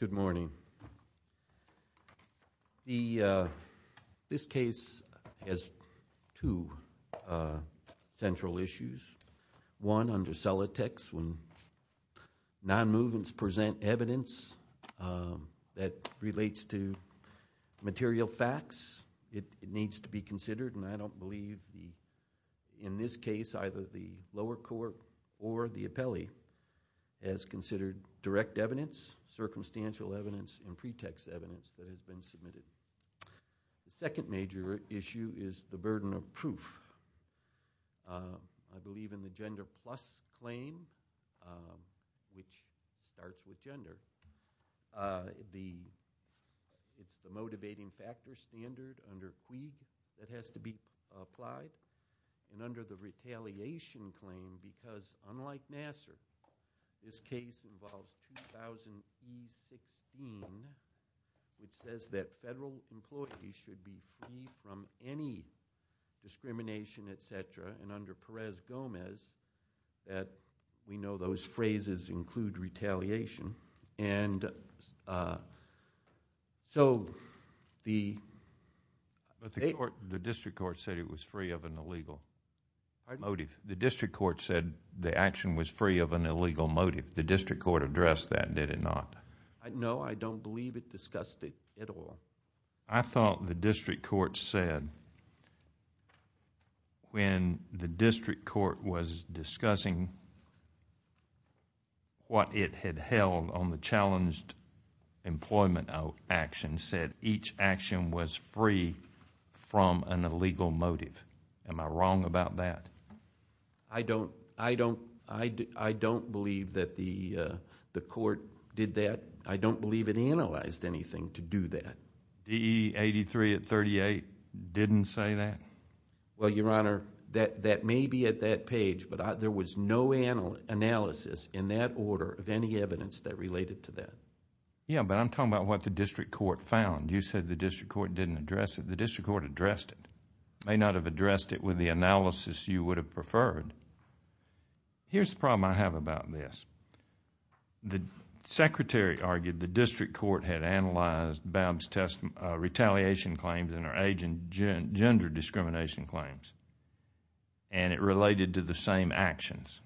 Good morning. This case has two central issues. One under Celotex, when non-movements present evidence that relates to material facts, it needs to be considered, and I don't believe in this case either the lower court or the The second issue is the burden of proof. I believe in the gender plus claim, which starts with gender, it's a motivating factor standard under EADS that has to be applied, and under the retaliation claim, because unlike Nassar, this case involved 2000 E16, it says that federal employees should be free from any discrimination, et cetera, and under Perez-Gomez, we know those phrases include retaliation, and so the... The district court said it was free of an illegal motive. The district court said the action was free of an illegal motive. The district court addressed that, did it not? No, I don't believe it discussed it at all. I thought the district court said when the district court was discussing what it had held on the challenged employment action said each action was free from an illegal motive. Am I wrong about that? I don't believe that the court did that. I don't believe it analyzed anything to do that. DE 83 at 38 didn't say that? Well, Your Honor, that may be at that page, but there was no analysis in that order of any evidence that related to that. Yeah, but I'm talking about what the district court found. You said the district court didn't address it. The district court addressed it. It may not have addressed it with the analysis you would have preferred. Here's the problem I have about this. The secretary argued the district court had analyzed Babs' retaliation claims and her agent gender discrimination claims, and it related to the same actions.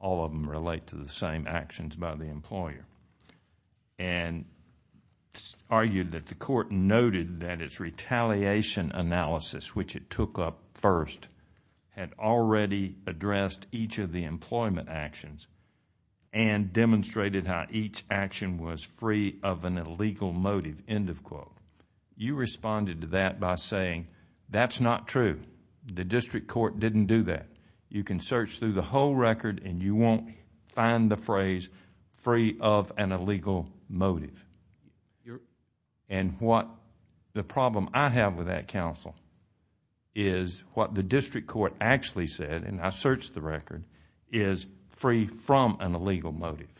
All of them relate to the same actions by the employer, and argued that the court noted that its retaliation analysis, which it took up first, had already addressed each of the employment actions and demonstrated how each action was free of an illegal motive, end of quote. You responded to that by saying that's not true. The district court didn't do that. You can search through the whole record, and you won't find the phrase free of an illegal motive. The problem I have with that counsel is what the district court actually said, and I searched the record, is free from an illegal motive.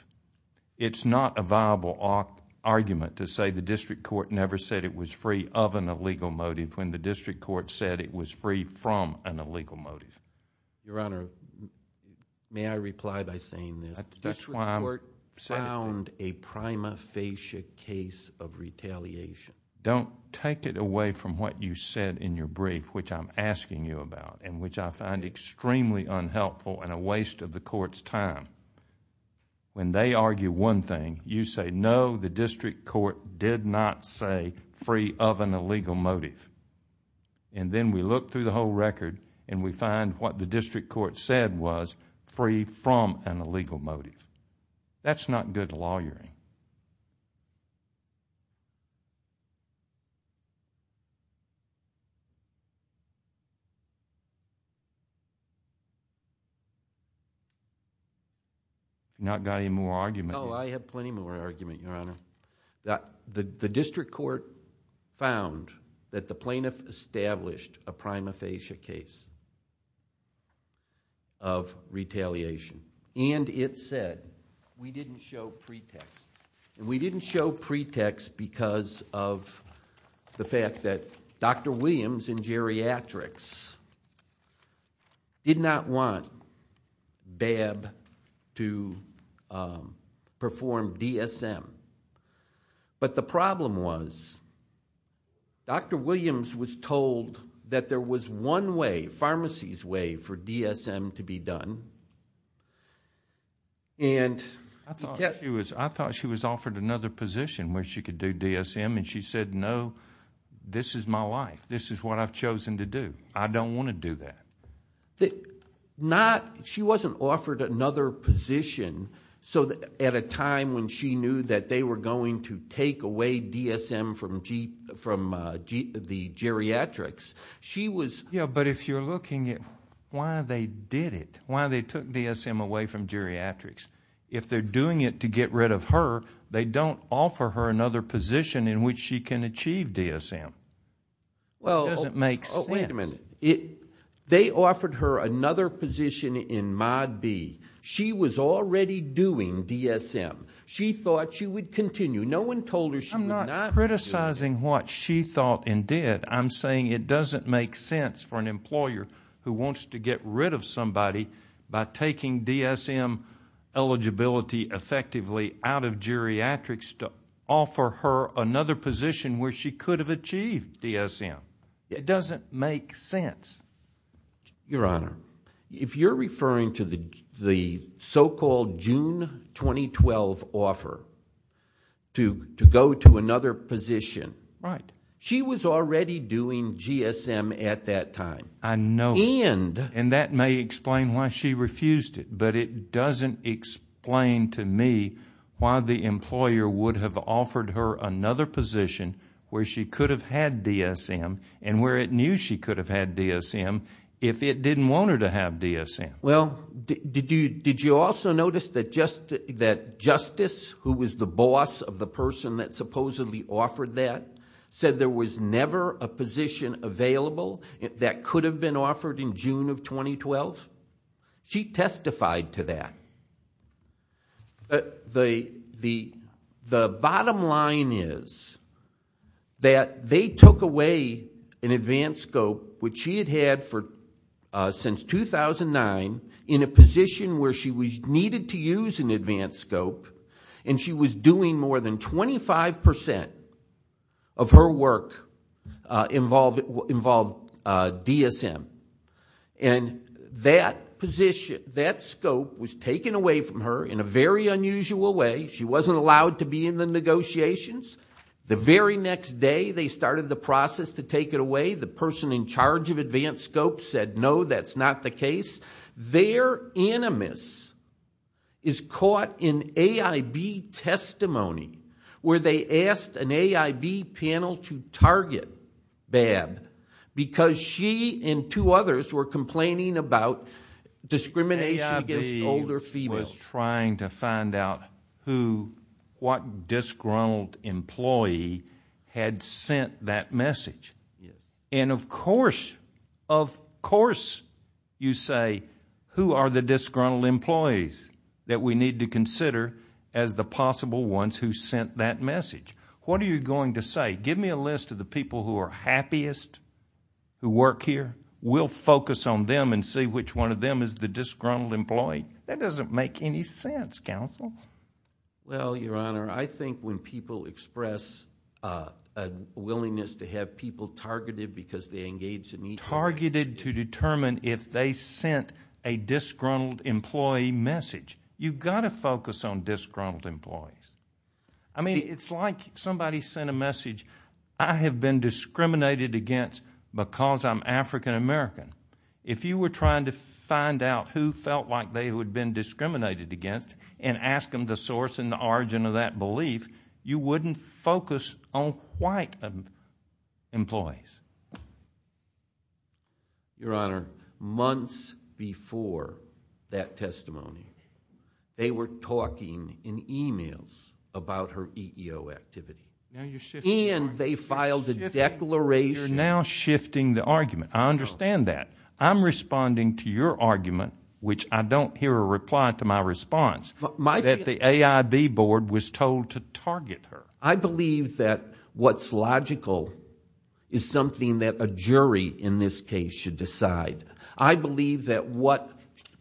It's not a viable argument to say the district court never said it was free of an illegal motive when the district court said it was free from an illegal motive. Your Honor, may I reply by saying this? The district court found a prima facie case of retaliation. Don't take it away from what you said in your brief, which I'm asking you about, and which I find extremely unhelpful and a waste of the court's time. When they argue one thing, you say no, the district court did not say free of an illegal motive, and then we look through the whole record, and we find what the district court said was free from an illegal motive. That's not good lawyering. Not got any more argument? Oh, I have plenty more argument, Your Honor. The district court found that the plaintiff established a prima facie case of retaliation, and it said we didn't show pretext. We didn't show pretext because of the fact that Dr. Williams in geriatrics did not want to perform DSM. But the problem was, Dr. Williams was told that there was one way, pharmacy's way, for DSM to be done. I thought she was offered another position where she could do DSM, and she said, no, this is my life. This is what I've chosen to do. I don't want to do that. She wasn't offered another position at a time when she knew that they were going to take away DSM from the geriatrics. She was... Yeah, but if you're looking at why they did it, why they took DSM away from geriatrics, if they're doing it to get rid of her, they don't offer her another position in which she can achieve DSM. It doesn't make sense. Wait a minute. They offered her another position in Mod B. She was already doing DSM. She thought she would continue. No one told her she would not do it. I'm not criticizing what she thought and did. I'm saying it doesn't make sense for an employer who wants to get rid of somebody by taking DSM eligibility effectively out of geriatrics to offer her another position where she could have achieved DSM. It doesn't make sense. Your Honor, if you're referring to the so-called June 2012 offer to go to another position, she was already doing GSM at that time. I know. And... And that may explain why she refused it, but it doesn't explain to me why the employer would have offered her another position where she could have had DSM and where it knew she could have had DSM if it didn't want her to have DSM. Well, did you also notice that Justice, who was the boss of the person that supposedly offered that, said there was never a position available that could have been offered in June of 2012? She testified to that. The bottom line is that they took away an advanced scope, which she had had since 2009, in a position where she needed to use an advanced scope, and she was doing more than 25 percent of her work involved DSM. And that position, that scope was taken away from her in a very unusual way. She wasn't allowed to be in the negotiations. The very next day, they started the process to take it away. The person in charge of advanced scope said, no, that's not the case. Their animus is caught in AIB testimony, where they asked an AIB panel to target Babb because she and two others were complaining about discrimination against older females. AIB was trying to find out what disgruntled employee had sent that message. And of course, of course you say, who are the disgruntled employees that we need to consider as the possible ones who sent that message? What are you going to say? Give me a list of the people who are happiest, who work here. We'll focus on them and see which one of them is the disgruntled employee. That doesn't make any sense, counsel. Well, your honor, I think when people express a willingness to have people targeted because they engage in e- Targeted to determine if they sent a disgruntled employee message. You've got to focus on disgruntled employees. I mean, it's like somebody sent a message. I have been discriminated against because I'm African American. If you were trying to find out who felt like they would have been discriminated against and ask them the source and the origin of that belief, you wouldn't focus on white employees. Your honor, months before that testimony, they were talking in emails about her EEO activity, and they filed a declaration- You're now shifting the argument. I understand that. I'm responding to your argument, which I don't hear a reply to my response, that the AIB board was told to target her. I believe that what's logical is something that a jury in this case should decide. I believe that what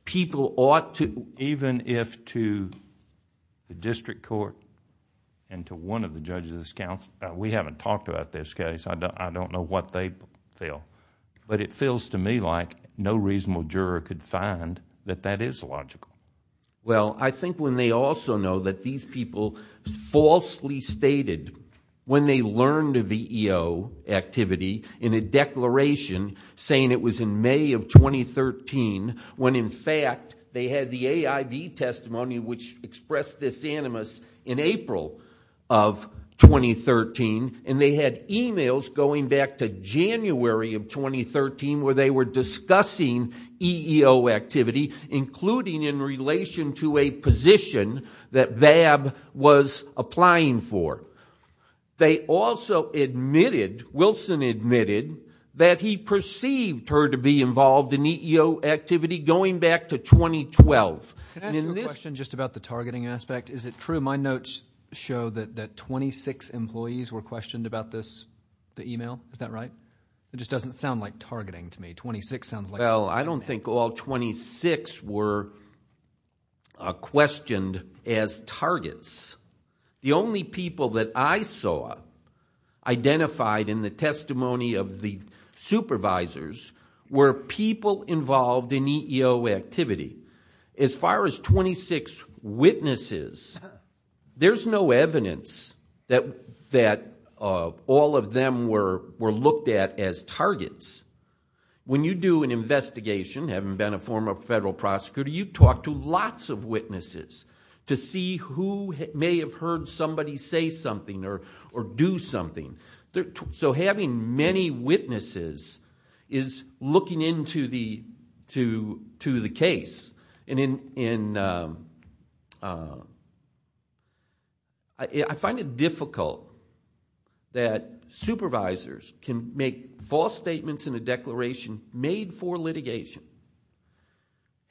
people ought to- Even if to the district court and to one of the judges of this council, we haven't talked about this case. I don't know what they feel, but it feels to me like no reasonable juror could find that that is logical. Well, I think when they also know that these people falsely stated when they learned of the EEO activity in a declaration saying it was in May of 2013, when in fact they had the AIB testimony, which expressed this animus in April of 2013, and they had emails going back to January of 2013 where they were discussing EEO activity, including in relation to a position that VAB was applying for. They also admitted, Wilson admitted, that he perceived her to be involved in EEO activity going back to 2012. Can I ask a question just about the targeting aspect? Is it true my notes show that 26 employees were questioned about this, the email? Is that right? It just doesn't sound like targeting to me. 26 sounds like- Well, I don't think all 26 were questioned as targets. The only people that I saw identified in the testimony of the supervisors were people involved in EEO activity. As far as 26 witnesses, there's no evidence that all of them were looked at as targets. When you do an investigation, having been a former federal prosecutor, you talk to lots of witnesses to see who may have heard somebody say something or do something. Having many witnesses is looking into the case. I find it difficult that supervisors can make false statements in a declaration made for litigation,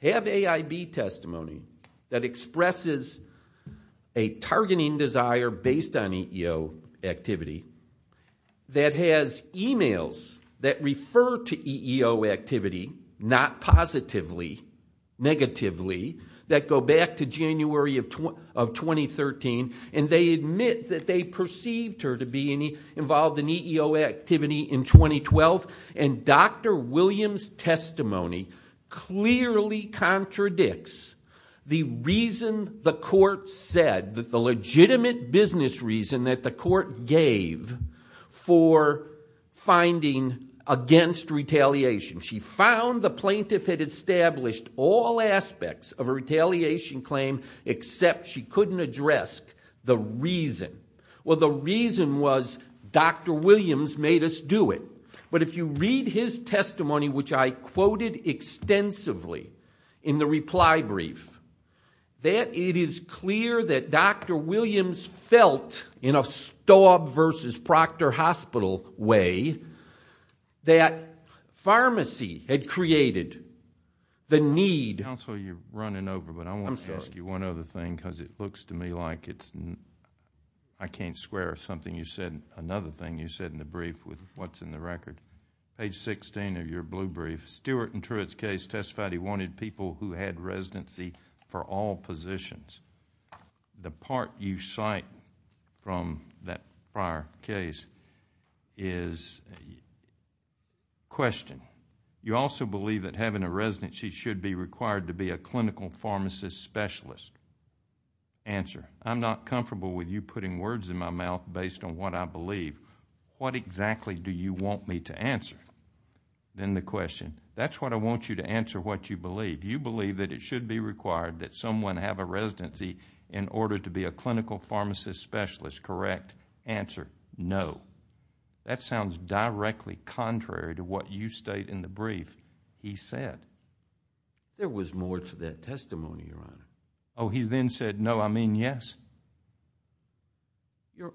have AIB testimony that expresses a targeting desire based on EEO activity, that has emails that refer to EEO activity, not positively, negatively, that go back to January of 2013, and they admit that they perceived her to be involved in EEO activity in 2012, and Dr. Williams' testimony clearly contradicts the reason the court said, the plaintiff, for finding against retaliation. She found the plaintiff had established all aspects of a retaliation claim, except she couldn't address the reason. Well, the reason was Dr. Williams made us do it, but if you read his testimony, which I quoted extensively in the reply brief, that it is clear that Dr. Williams felt, in a Staub versus Proctor Hospital way, that pharmacy had created the need...... Counsel, you're running over, but I want to ask you one other thing because it looks to me like it's... I can't swear something you said, another thing you said in the brief with what's in the record. Page 16 of your blue brief, Stewart and Truitt's case testified he wanted people who had residency for all positions. The part you cite from that prior case is a question. You also believe that having a residency should be required to be a clinical pharmacist specialist. Answer, I'm not comfortable with you putting words in my mouth based on what I believe. What exactly do you want me to answer? Then the question, that's what I want you to answer what you believe. You believe that it should be required that someone have a residency in order to be a clinical pharmacist specialist, correct? Answer, no. That sounds directly contrary to what you state in the brief he said. There was more to that testimony, Your Honor. Oh, he then said, no, I mean yes? Your Honor,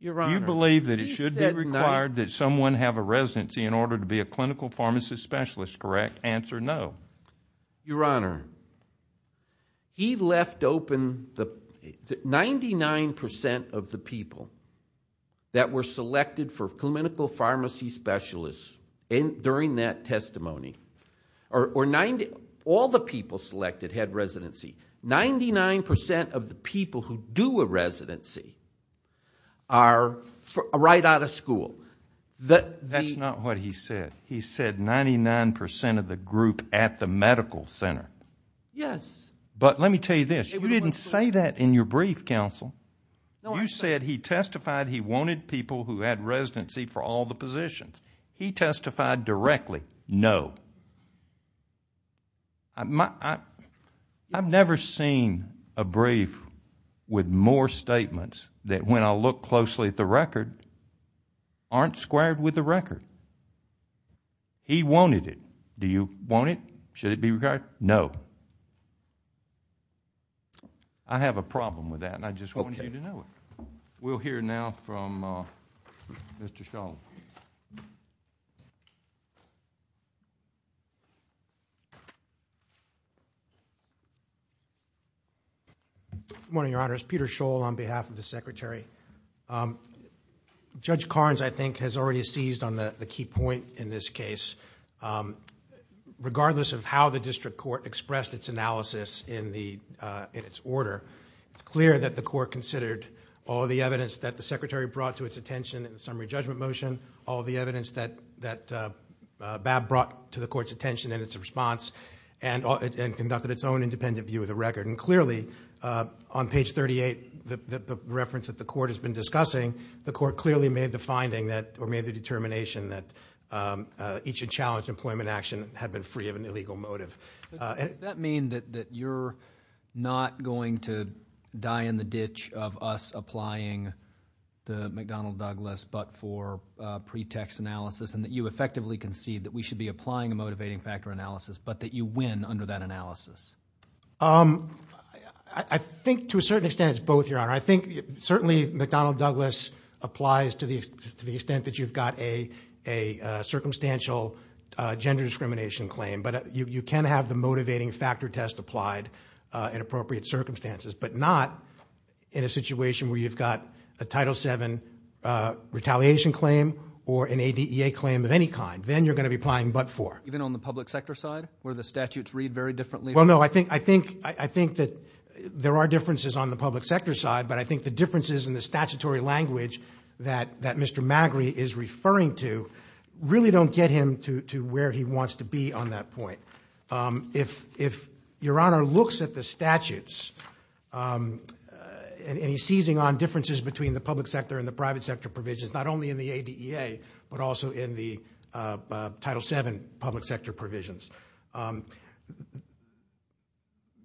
he said... You believe that it should be required that someone have a residency in order to be a clinical pharmacist specialist, correct? Answer, no. Your Honor, he left open the... 99% of the people that were selected for clinical pharmacy specialists during that testimony, or all the people selected had residency, 99% of the people who do a residency are right out of school. That's not what he said. He said 99% of the group at the medical center. Yes. But, let me tell you this, you didn't say that in your brief, counsel, you said he testified he wanted people who had residency for all the positions. He testified directly, no. I've never seen a brief with more statements that, when I look closely at the record, aren't they ascribed with the record? He wanted it. Do you want it? Should it be required? No. I have a problem with that, and I just wanted you to know it. We'll hear now from Mr. Scholl. Good morning, Your Honors. Peter Scholl on behalf of the Secretary. Judge Carnes, I think, has already seized on the key point in this case. Regardless of how the district court expressed its analysis in its order, it's clear that the court considered all the evidence that the Secretary brought to its attention in the summary judgment motion, all the evidence that Babb brought to the court's attention in its response, and conducted its own independent view of the record. Clearly, on page 38, the reference that the court has been discussing, the court clearly made the finding, or made the determination, that each challenged employment action had been free of an illegal motive. That means that you're not going to die in the ditch of us applying the McDonnell-Douglas but-for pretext analysis, and that you effectively concede that we should be applying a motivating factor analysis, but that you win under that analysis. I think, to a certain extent, it's both, Your Honor. I think, certainly, McDonnell-Douglas applies to the extent that you've got a circumstantial gender discrimination claim. But you can have the motivating factor test applied in appropriate circumstances, but not in a situation where you've got a Title VII retaliation claim or an ADEA claim of any kind. Then you're going to be applying but-for. Even on the public sector side, where the statutes read very differently? Well, no. I think that there are differences on the public sector side, but I think the differences in the statutory language that Mr. Magri is referring to really don't get him to where he wants to be on that point. If Your Honor looks at the statutes, and he's seizing on differences between the public sector provisions, not only in the ADEA, but also in the Title VII public sector provisions,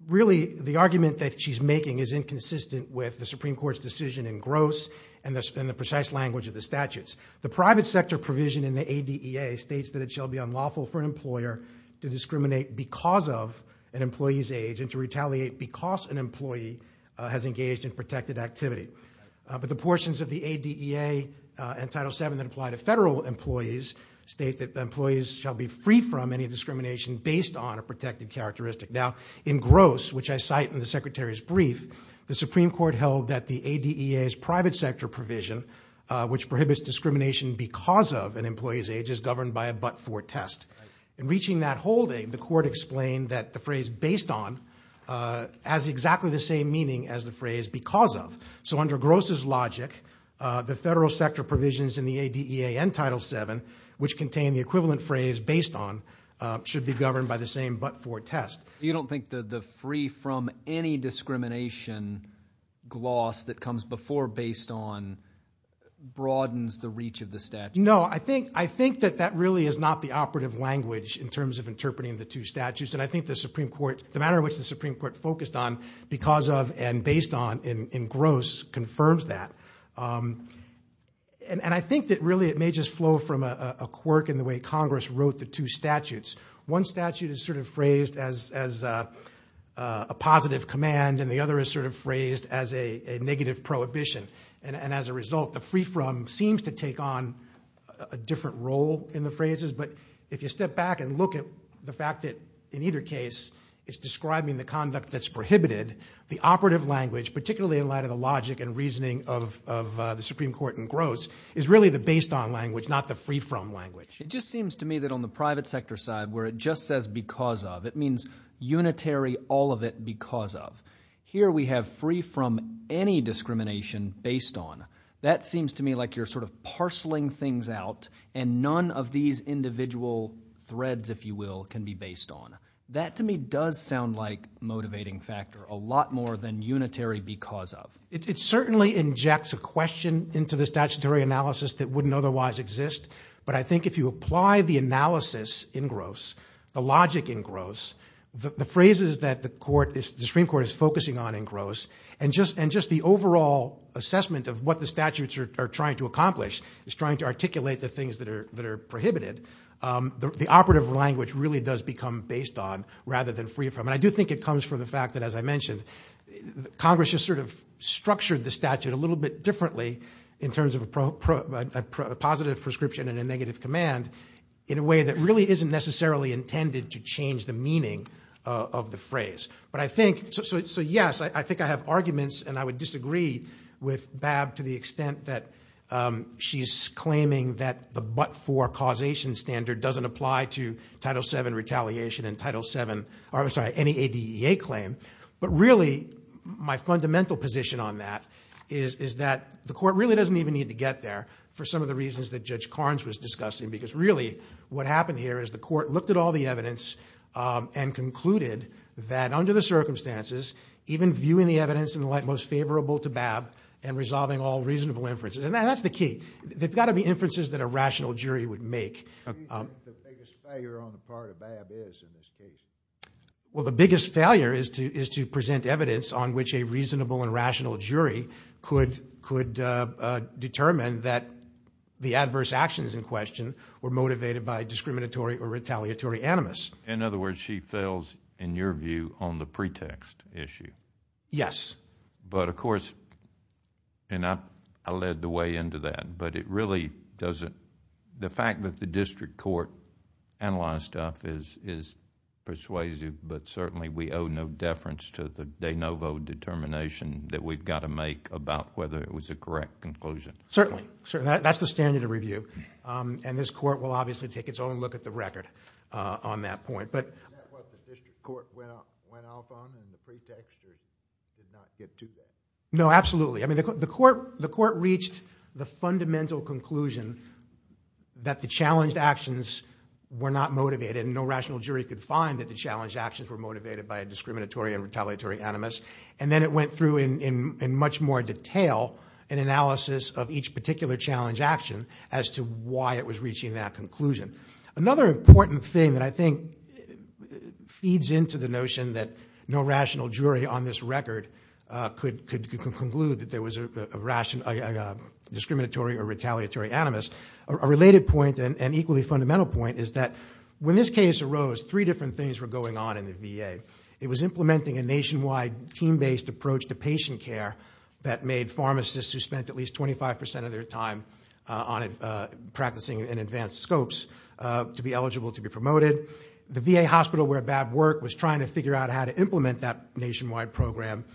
really the argument that she's making is inconsistent with the Supreme Court's decision in Gross and the precise language of the statutes. The private sector provision in the ADEA states that it shall be unlawful for an employer to discriminate because of an employee's age and to retaliate because an employee has engaged in protected activity. But the portions of the ADEA and Title VII that apply to federal employees state that employees shall be free from any discrimination based on a protected characteristic. Now, in Gross, which I cite in the Secretary's brief, the Supreme Court held that the ADEA's private sector provision, which prohibits discrimination because of an employee's age, is governed by a but-for test. In reaching that holding, the Court explained that the phrase based on has exactly the same meaning as the phrase because of. So under Gross's logic, the federal sector provisions in the ADEA and Title VII, which contain the equivalent phrase based on, should be governed by the same but-for test. You don't think that the free from any discrimination gloss that comes before based on broadens the reach of the statute? No, I think that that really is not the operative language in terms of interpreting the two statutes. And I think the Supreme Court, the manner in which the Supreme Court focused on because of and based on in Gross confirms that. And I think that really it may just flow from a quirk in the way Congress wrote the two statutes. One statute is sort of phrased as a positive command, and the other is sort of phrased as a negative prohibition. And as a result, the free from seems to take on a different role in the phrases. But if you step back and look at the fact that in either case, it's describing the conduct that's prohibited, the operative language, particularly in light of the logic and reasoning of the Supreme Court in Gross, is really the based on language, not the free from language. It just seems to me that on the private sector side where it just says because of, it means unitary all of it because of. Here we have free from any discrimination based on. That seems to me like you're sort of parceling things out, and none of these individual threads, if you will, can be based on. That to me does sound like a motivating factor, a lot more than unitary because of. It certainly injects a question into the statutory analysis that wouldn't otherwise exist. But I think if you apply the analysis in Gross, the logic in Gross, the phrases that the Supreme Court is focusing on in Gross, and just the overall assessment of what the statutes are trying to accomplish, is trying to articulate the things that are prohibited, the operative language really does become based on rather than free from. And I do think it comes from the fact that, as I mentioned, Congress has sort of structured the statute a little bit differently in terms of a positive prescription and a negative command in a way that really isn't necessarily intended to change the meaning of the phrase. But I think, so yes, I think I have arguments, and I would disagree with Bab to the extent that she's claiming that the but-for causation standard doesn't apply to Title VII retaliation and Title VII, or I'm sorry, any ADEA claim. But really, my fundamental position on that is that the court really doesn't even need to get there for some of the reasons that Judge Carnes was discussing. Because really what happened here is the court looked at all the evidence and concluded that under the circumstances, even viewing the evidence in the light most favorable to Bab and resolving all reasonable inferences. And that's the key. There's got to be inferences that a rational jury would make. What do you think the biggest failure on the part of Bab is in this case? Well, the biggest failure is to present evidence on which a reasonable and rational jury could determine that the adverse actions in question were motivated by discriminatory or retaliatory animus. In other words, she fails, in your view, on the pretext issue. Yes. But of course, and I led the way into that, but it really doesn't... the fact that the district court analyzed stuff is persuasive, but certainly we owe no deference to the de novo determination that we've got to make about whether it was a correct conclusion. Certainly. That's the standard of review. And this court will obviously take its own look at the record on that point. And that's what the district court went off on in the pretext that it did not get to that. No, absolutely. I mean, the court reached the fundamental conclusion that the challenged actions were not motivated, and no rational jury could find that the challenged actions were motivated by a discriminatory and retaliatory animus. And then it went through in much more detail an analysis of each particular challenge action as to why it was reaching that conclusion. Another important thing that I think feeds into the notion that no rational jury on this record could conclude that there was a discriminatory or retaliatory animus, a related point and equally fundamental point is that when this case arose, three different things were going on in the VA. It was implementing a nationwide team-based approach to patient care that made pharmacists who spent at least 25% of their time on it practicing in advanced scopes to be eligible to be promoted. The VA hospital where BAB worked was trying to figure out how to implement that nationwide program.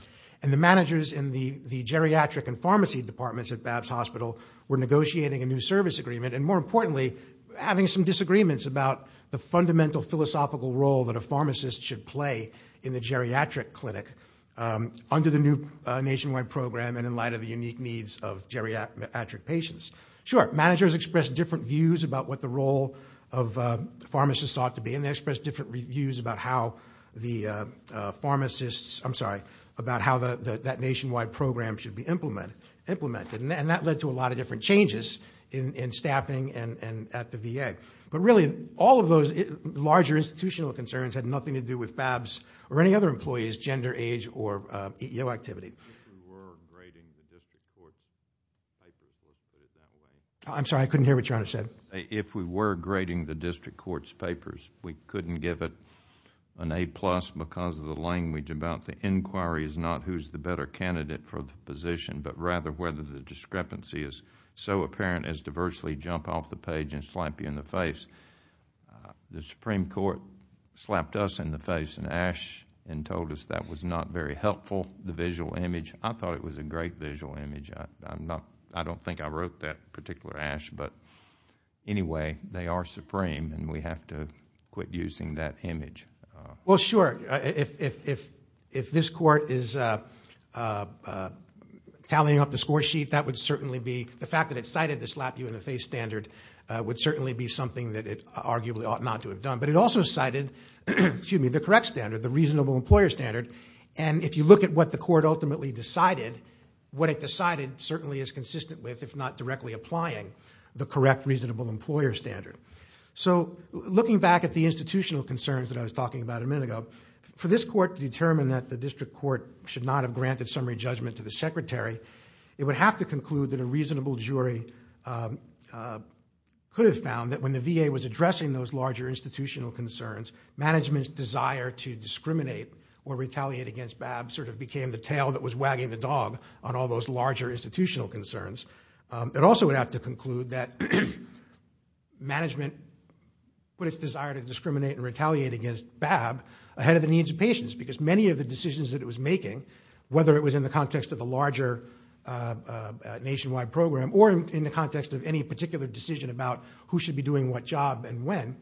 And the managers in the geriatric and pharmacy departments at BAB's hospital were negotiating a new service agreement, and more importantly, having some disagreements about the fundamental philosophical role that a pharmacist should play in the geriatric clinic. Under the new nationwide program and in light of the unique needs of geriatric patients. Sure, managers expressed different views about what the role of pharmacists ought to be, and they expressed different views about how the pharmacists, I'm sorry, about how that nationwide program should be implemented. And that led to a lot of different changes in staffing and at the VA. But really, all of those larger institutional concerns had nothing to do with BAB's or any of the VA's or EEO activity. If we were grading the district court's papers, we couldn't give it an A-plus because of the language about the inquiry is not who's the better candidate for the position, but rather whether the discrepancy is so apparent as to virtually jump off the page and slap you in the face. The Supreme Court slapped us in the face in Ashe and told us that was not very helpful, the visual image. I thought it was a great visual image. I don't think I wrote that particular Ashe, but anyway, they are supreme and we have to quit using that image. Well, sure. If this court is tallying up the score sheet, that would certainly be, the fact that it arguably ought not to have done, but it also cited the correct standard, the reasonable employer standard. And if you look at what the court ultimately decided, what it decided certainly is consistent with if not directly applying the correct reasonable employer standard. So looking back at the institutional concerns that I was talking about a minute ago, for this court to determine that the district court should not have granted summary judgment to the secretary, it would have to conclude that a reasonable jury could have found that when the VA was addressing those larger institutional concerns, management's desire to discriminate or retaliate against BAB sort of became the tail that was wagging the dog on all those larger institutional concerns. It also would have to conclude that management put its desire to discriminate and retaliate against BAB ahead of the needs of patients because many of the decisions that it was making, whether it was in the context of the larger nationwide program or in the context of any particular decision about who should be doing what job and when,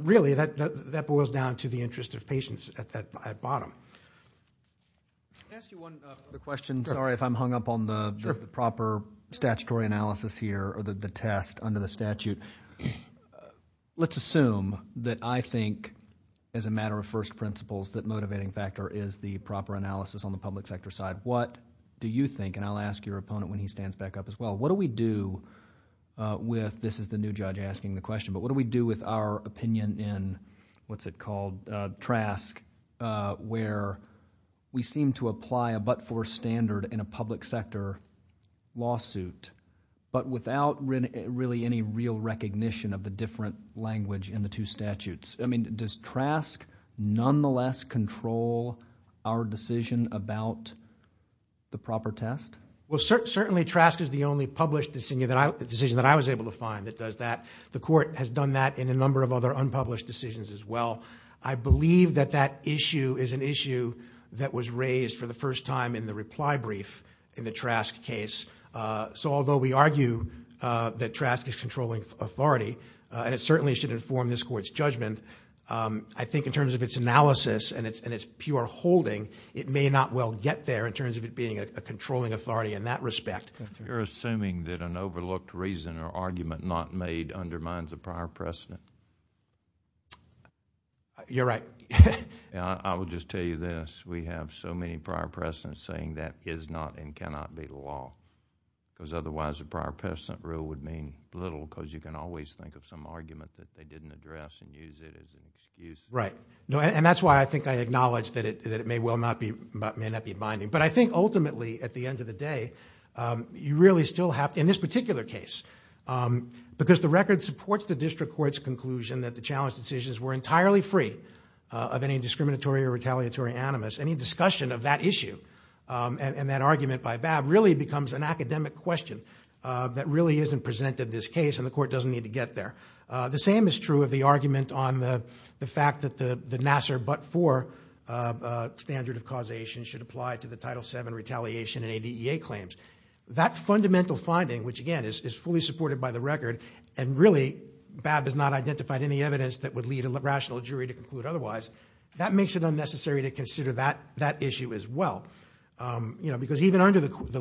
really that boils down to the interest of patients at that bottom. Can I ask you one question? Sure. Sorry if I'm hung up on the proper statutory analysis here or the test under the statute. Let's assume that I think as a matter of first principles that motivating factor is the proper analysis on the public sector side. What do you think, and I'll ask your opponent when he stands back up as well, what do we do with, this is the new judge asking the question, but what do we do with our opinion in, what's it called, TRASC, where we seem to apply a but-for standard in a public sector lawsuit, but without really any real recognition of the different language in the two statutes? Does TRASC nonetheless control our decision about the proper test? Well, certainly TRASC is the only decision that I was able to find that does that. The court has done that in a number of other unpublished decisions as well. I believe that that issue is an issue that was raised for the first time in the reply brief in the TRASC case. So although we argue that TRASC is controlling authority, and it certainly should inform this court's judgment, I think in terms of its analysis and its pure holding, it may not well get there in terms of it being a controlling authority in that respect. You're assuming that an overlooked reason or argument not made undermines the prior precedent? You're right. I will just tell you this. We have so many prior precedents saying that is not and cannot be law, because otherwise a prior precedent rule would mean little, because you can always think of some argument that they didn't address and use it as an excuse. Right. And that's why I think I acknowledge that it may well not be binding. But I think ultimately, at the end of the day, you really still have, in this particular case, because the record supports the district court's conclusion that the challenge decisions were entirely free of any discriminatory or retaliatory animus, any discussion of that issue and that argument by Babb really becomes an academic question that really isn't presented this case, and the court doesn't need to get there. The same is true of the argument on the fact that the Nassar but-for standard of causation should apply to the Title VII retaliation and ADEA claims. That fundamental finding, which again, is fully supported by the record, and really Babb has not identified any evidence that would lead a rational jury to conclude otherwise, that makes it unnecessary to consider that issue as well. Because even under the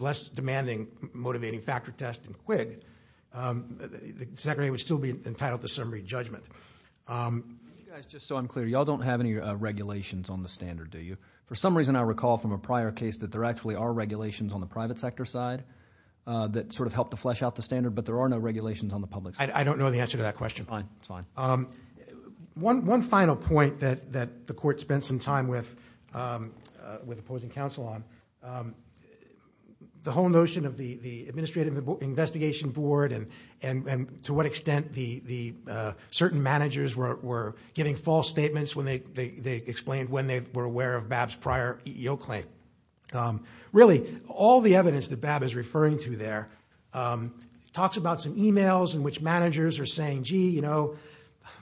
less demanding motivating factor test in Quigg, the Secretary would still be entitled to summary judgment. Just so I'm clear, you all don't have any regulations on the standard, do you? For some reason I recall from a prior case that there actually are regulations on the private sector side that sort of help to flesh out the standard, but there are no regulations on the public sector. I don't know the answer to that question. Fine. It's fine. One final point that the court spent some time with opposing counsel on, the whole notion of the Administrative Investigation Board and to what extent the certain managers were giving false statements when they explained when they were aware of Babb's prior EEO claim. Really, all the evidence that Babb is referring to there talks about some emails in which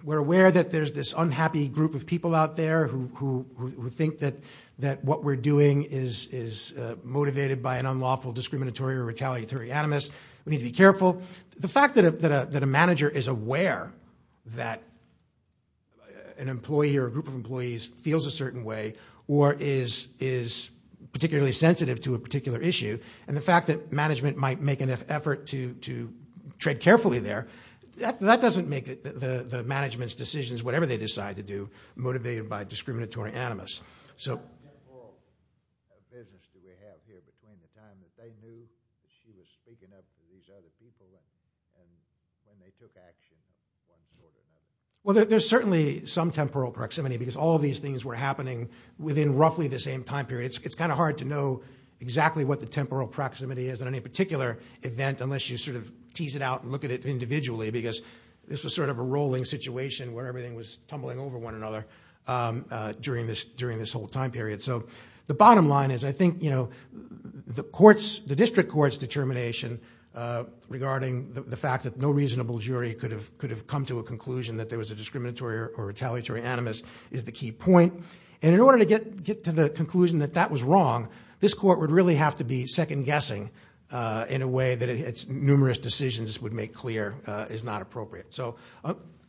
we're aware that there's this unhappy group of people out there who think that what we're doing is motivated by an unlawful, discriminatory, or retaliatory animus, we need to be careful. The fact that a manager is aware that an employee or a group of employees feels a certain way or is particularly sensitive to a particular issue, and the fact that management might make an effort to tread carefully there, that doesn't make the management's decisions, whatever they decide to do, motivated by discriminatory animus. So... Well, there's certainly some temporal proximity because all these things were happening within roughly the same time period. It's kind of hard to know exactly what the temporal proximity is in any particular event unless you sort of tease it out and look at it individually because this was sort of a rolling situation where everything was tumbling over one another during this whole time period. So the bottom line is I think the district court's determination regarding the fact that no reasonable jury could have come to a conclusion that there was a discriminatory or retaliatory animus is the key point. And in order to get to the conclusion that that was wrong, this court would really have to be second-guessing in a way that its numerous decisions would make clear is not appropriate. So...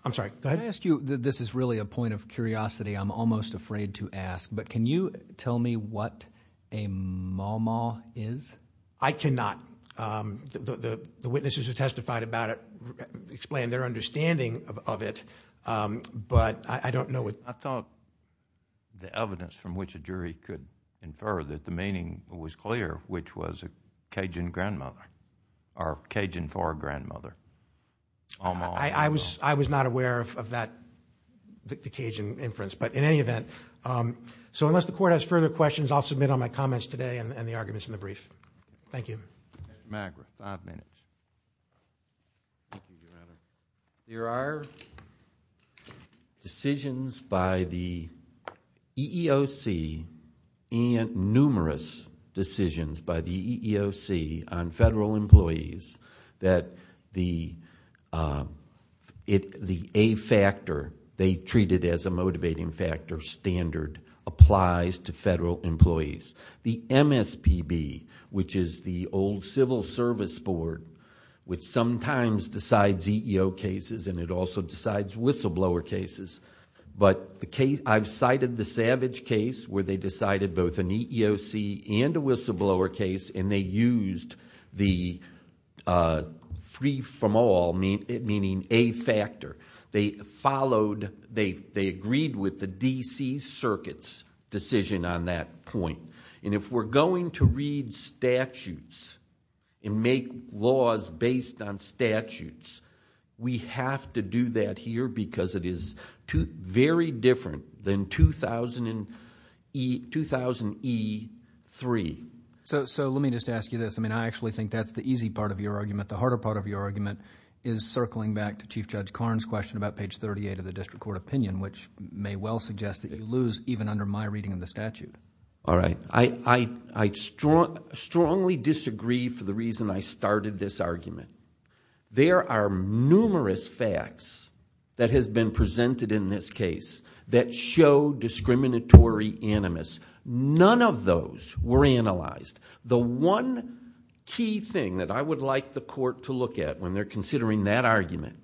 I'm sorry, go ahead. Can I ask you, this is really a point of curiosity I'm almost afraid to ask, but can you tell me what a maumau is? I cannot. The witnesses who testified about it explained their understanding of it, but I don't know what... I thought the evidence from which a jury could infer that the meaning was clear, which was a Cajun grandmother or Cajun for a grandmother, a maumau. I was not aware of that, the Cajun inference, but in any event, so unless the court has further questions, I'll submit on my comments today and the arguments in the brief. Thank you. Magra, five minutes. There are decisions by the EEOC and numerous decisions by the EEOC on federal employees that the A factor, they treat it as a motivating factor standard, applies to federal employees. The MSPB, which is the old civil service board, which sometimes decides EEO cases and it also decides whistleblower cases, but I've cited the Savage case where they decided both an EEOC and a whistleblower case and they used the free from all, meaning A factor. They followed, they agreed with the DC circuit's decision on that point. If we're going to read statutes and make laws based on statutes, we have to do that here because it is very different than 2000E3. Let me just ask you this. I actually think that's the easy part of your argument. The harder part of your argument is circling back to Chief Judge Karn's question about page 38 of the district court opinion, which may well suggest that you lose even under my reading of the statute. All right. I strongly disagree for the reason I started this argument. There are numerous facts that has been presented in this case that show discriminatory animus. None of those were analyzed. The one key thing that I would like the court to look at when they're considering that argument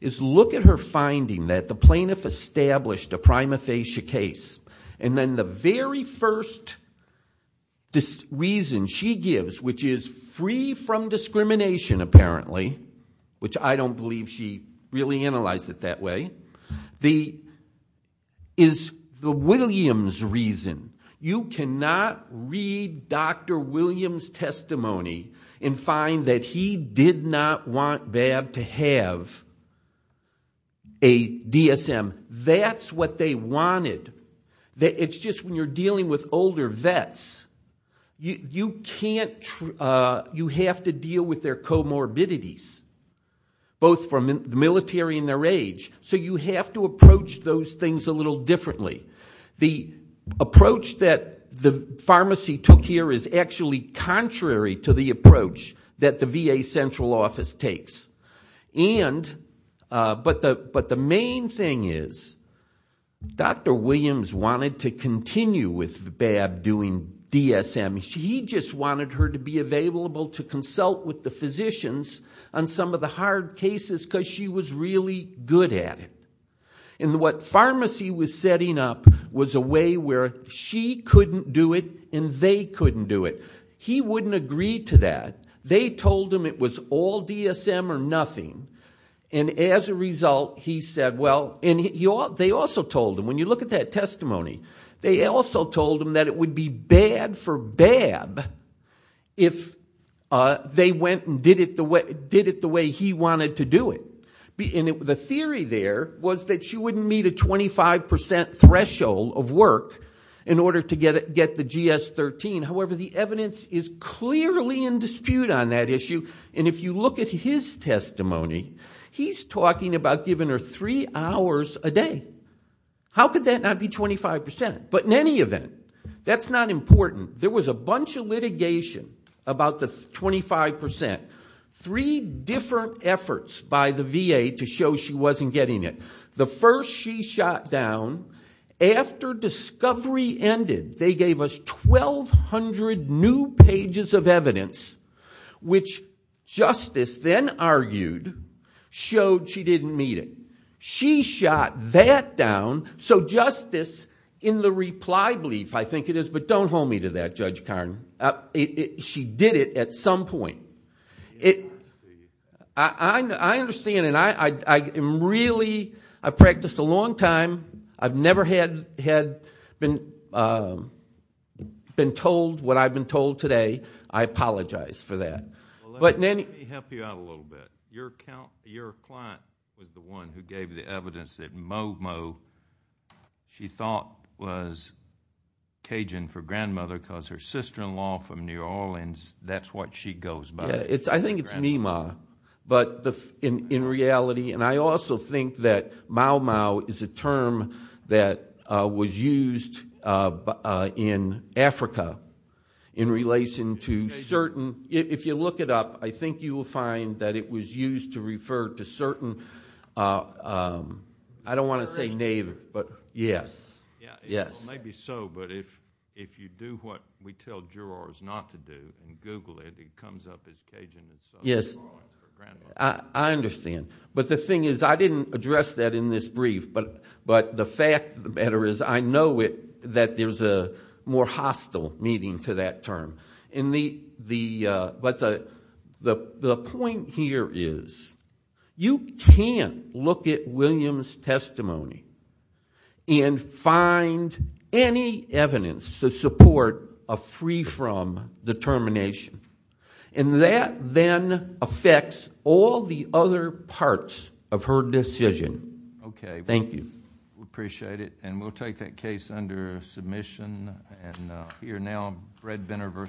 is look at her finding that the plaintiff established a prima facie case and then the very first reason she gives, which is free from discrimination apparently, which I don't believe she really analyzed it that way, is the Williams reason. You cannot read Dr. Williams' testimony and find that he did not want Babb to have a DSM. That's what they wanted. It's just when you're dealing with older vets, you have to deal with their comorbidities, both from the military and their age, so you have to approach those things a little differently. The approach that the pharmacy took here is actually contrary to the approach that the VA central office takes. But the main thing is Dr. Williams wanted to continue with Babb doing DSM. He just wanted her to be available to consult with the physicians on some of the hard cases because she was really good at it. And what pharmacy was setting up was a way where she couldn't do it and they couldn't do it. He wouldn't agree to that. They told him it was all DSM or nothing, and as a result, he said, well, and they also told him, when you look at that testimony, they also told him that it would be bad for Babb if they went and did it the way he wanted to do it. The theory there was that she wouldn't meet a 25% threshold of work in order to get the GS13. However, the evidence is clearly in dispute on that issue, and if you look at his testimony, he's talking about giving her three hours a day. How could that not be 25%? But in any event, that's not important. There was a bunch of litigation about the 25%. Three different efforts by the VA to show she wasn't getting it. The first she shot down, after discovery ended, they gave us 1,200 new pages of evidence, which Justice then argued showed she didn't meet it. She shot that down. So Justice, in the reply brief, I think it is, but don't hold me to that, Judge Karn, she did it at some point. I understand, and I practiced a long time, I've never had been told what I've been told today. I apologize for that. Let me help you out a little bit. Your client was the one who gave the evidence that Momo, she thought was Cajun for grandmother because her sister-in-law from New Orleans, that's what she goes by. I think it's Meemaw, but in reality, and I also think that Mau Mau is a term that was used in Africa in relation to certain, if you look it up, I think you will find that it was used to refer to certain, I don't want to say native, but yes. Maybe so, but if you do what we tell jurors not to do and Google it, it comes up as Cajun. Yes, I understand, but the thing is, I didn't address that in this brief, but the fact of the matter is, I know that there's a more hostile meaning to that term, but the point here is, you can't look at William's testimony and find any evidence to support a free-from determination, and that then affects all the other parts of her decision. Thank you. Okay. We appreciate it, and we'll take that case under submission, and we are now Brett Benner versus...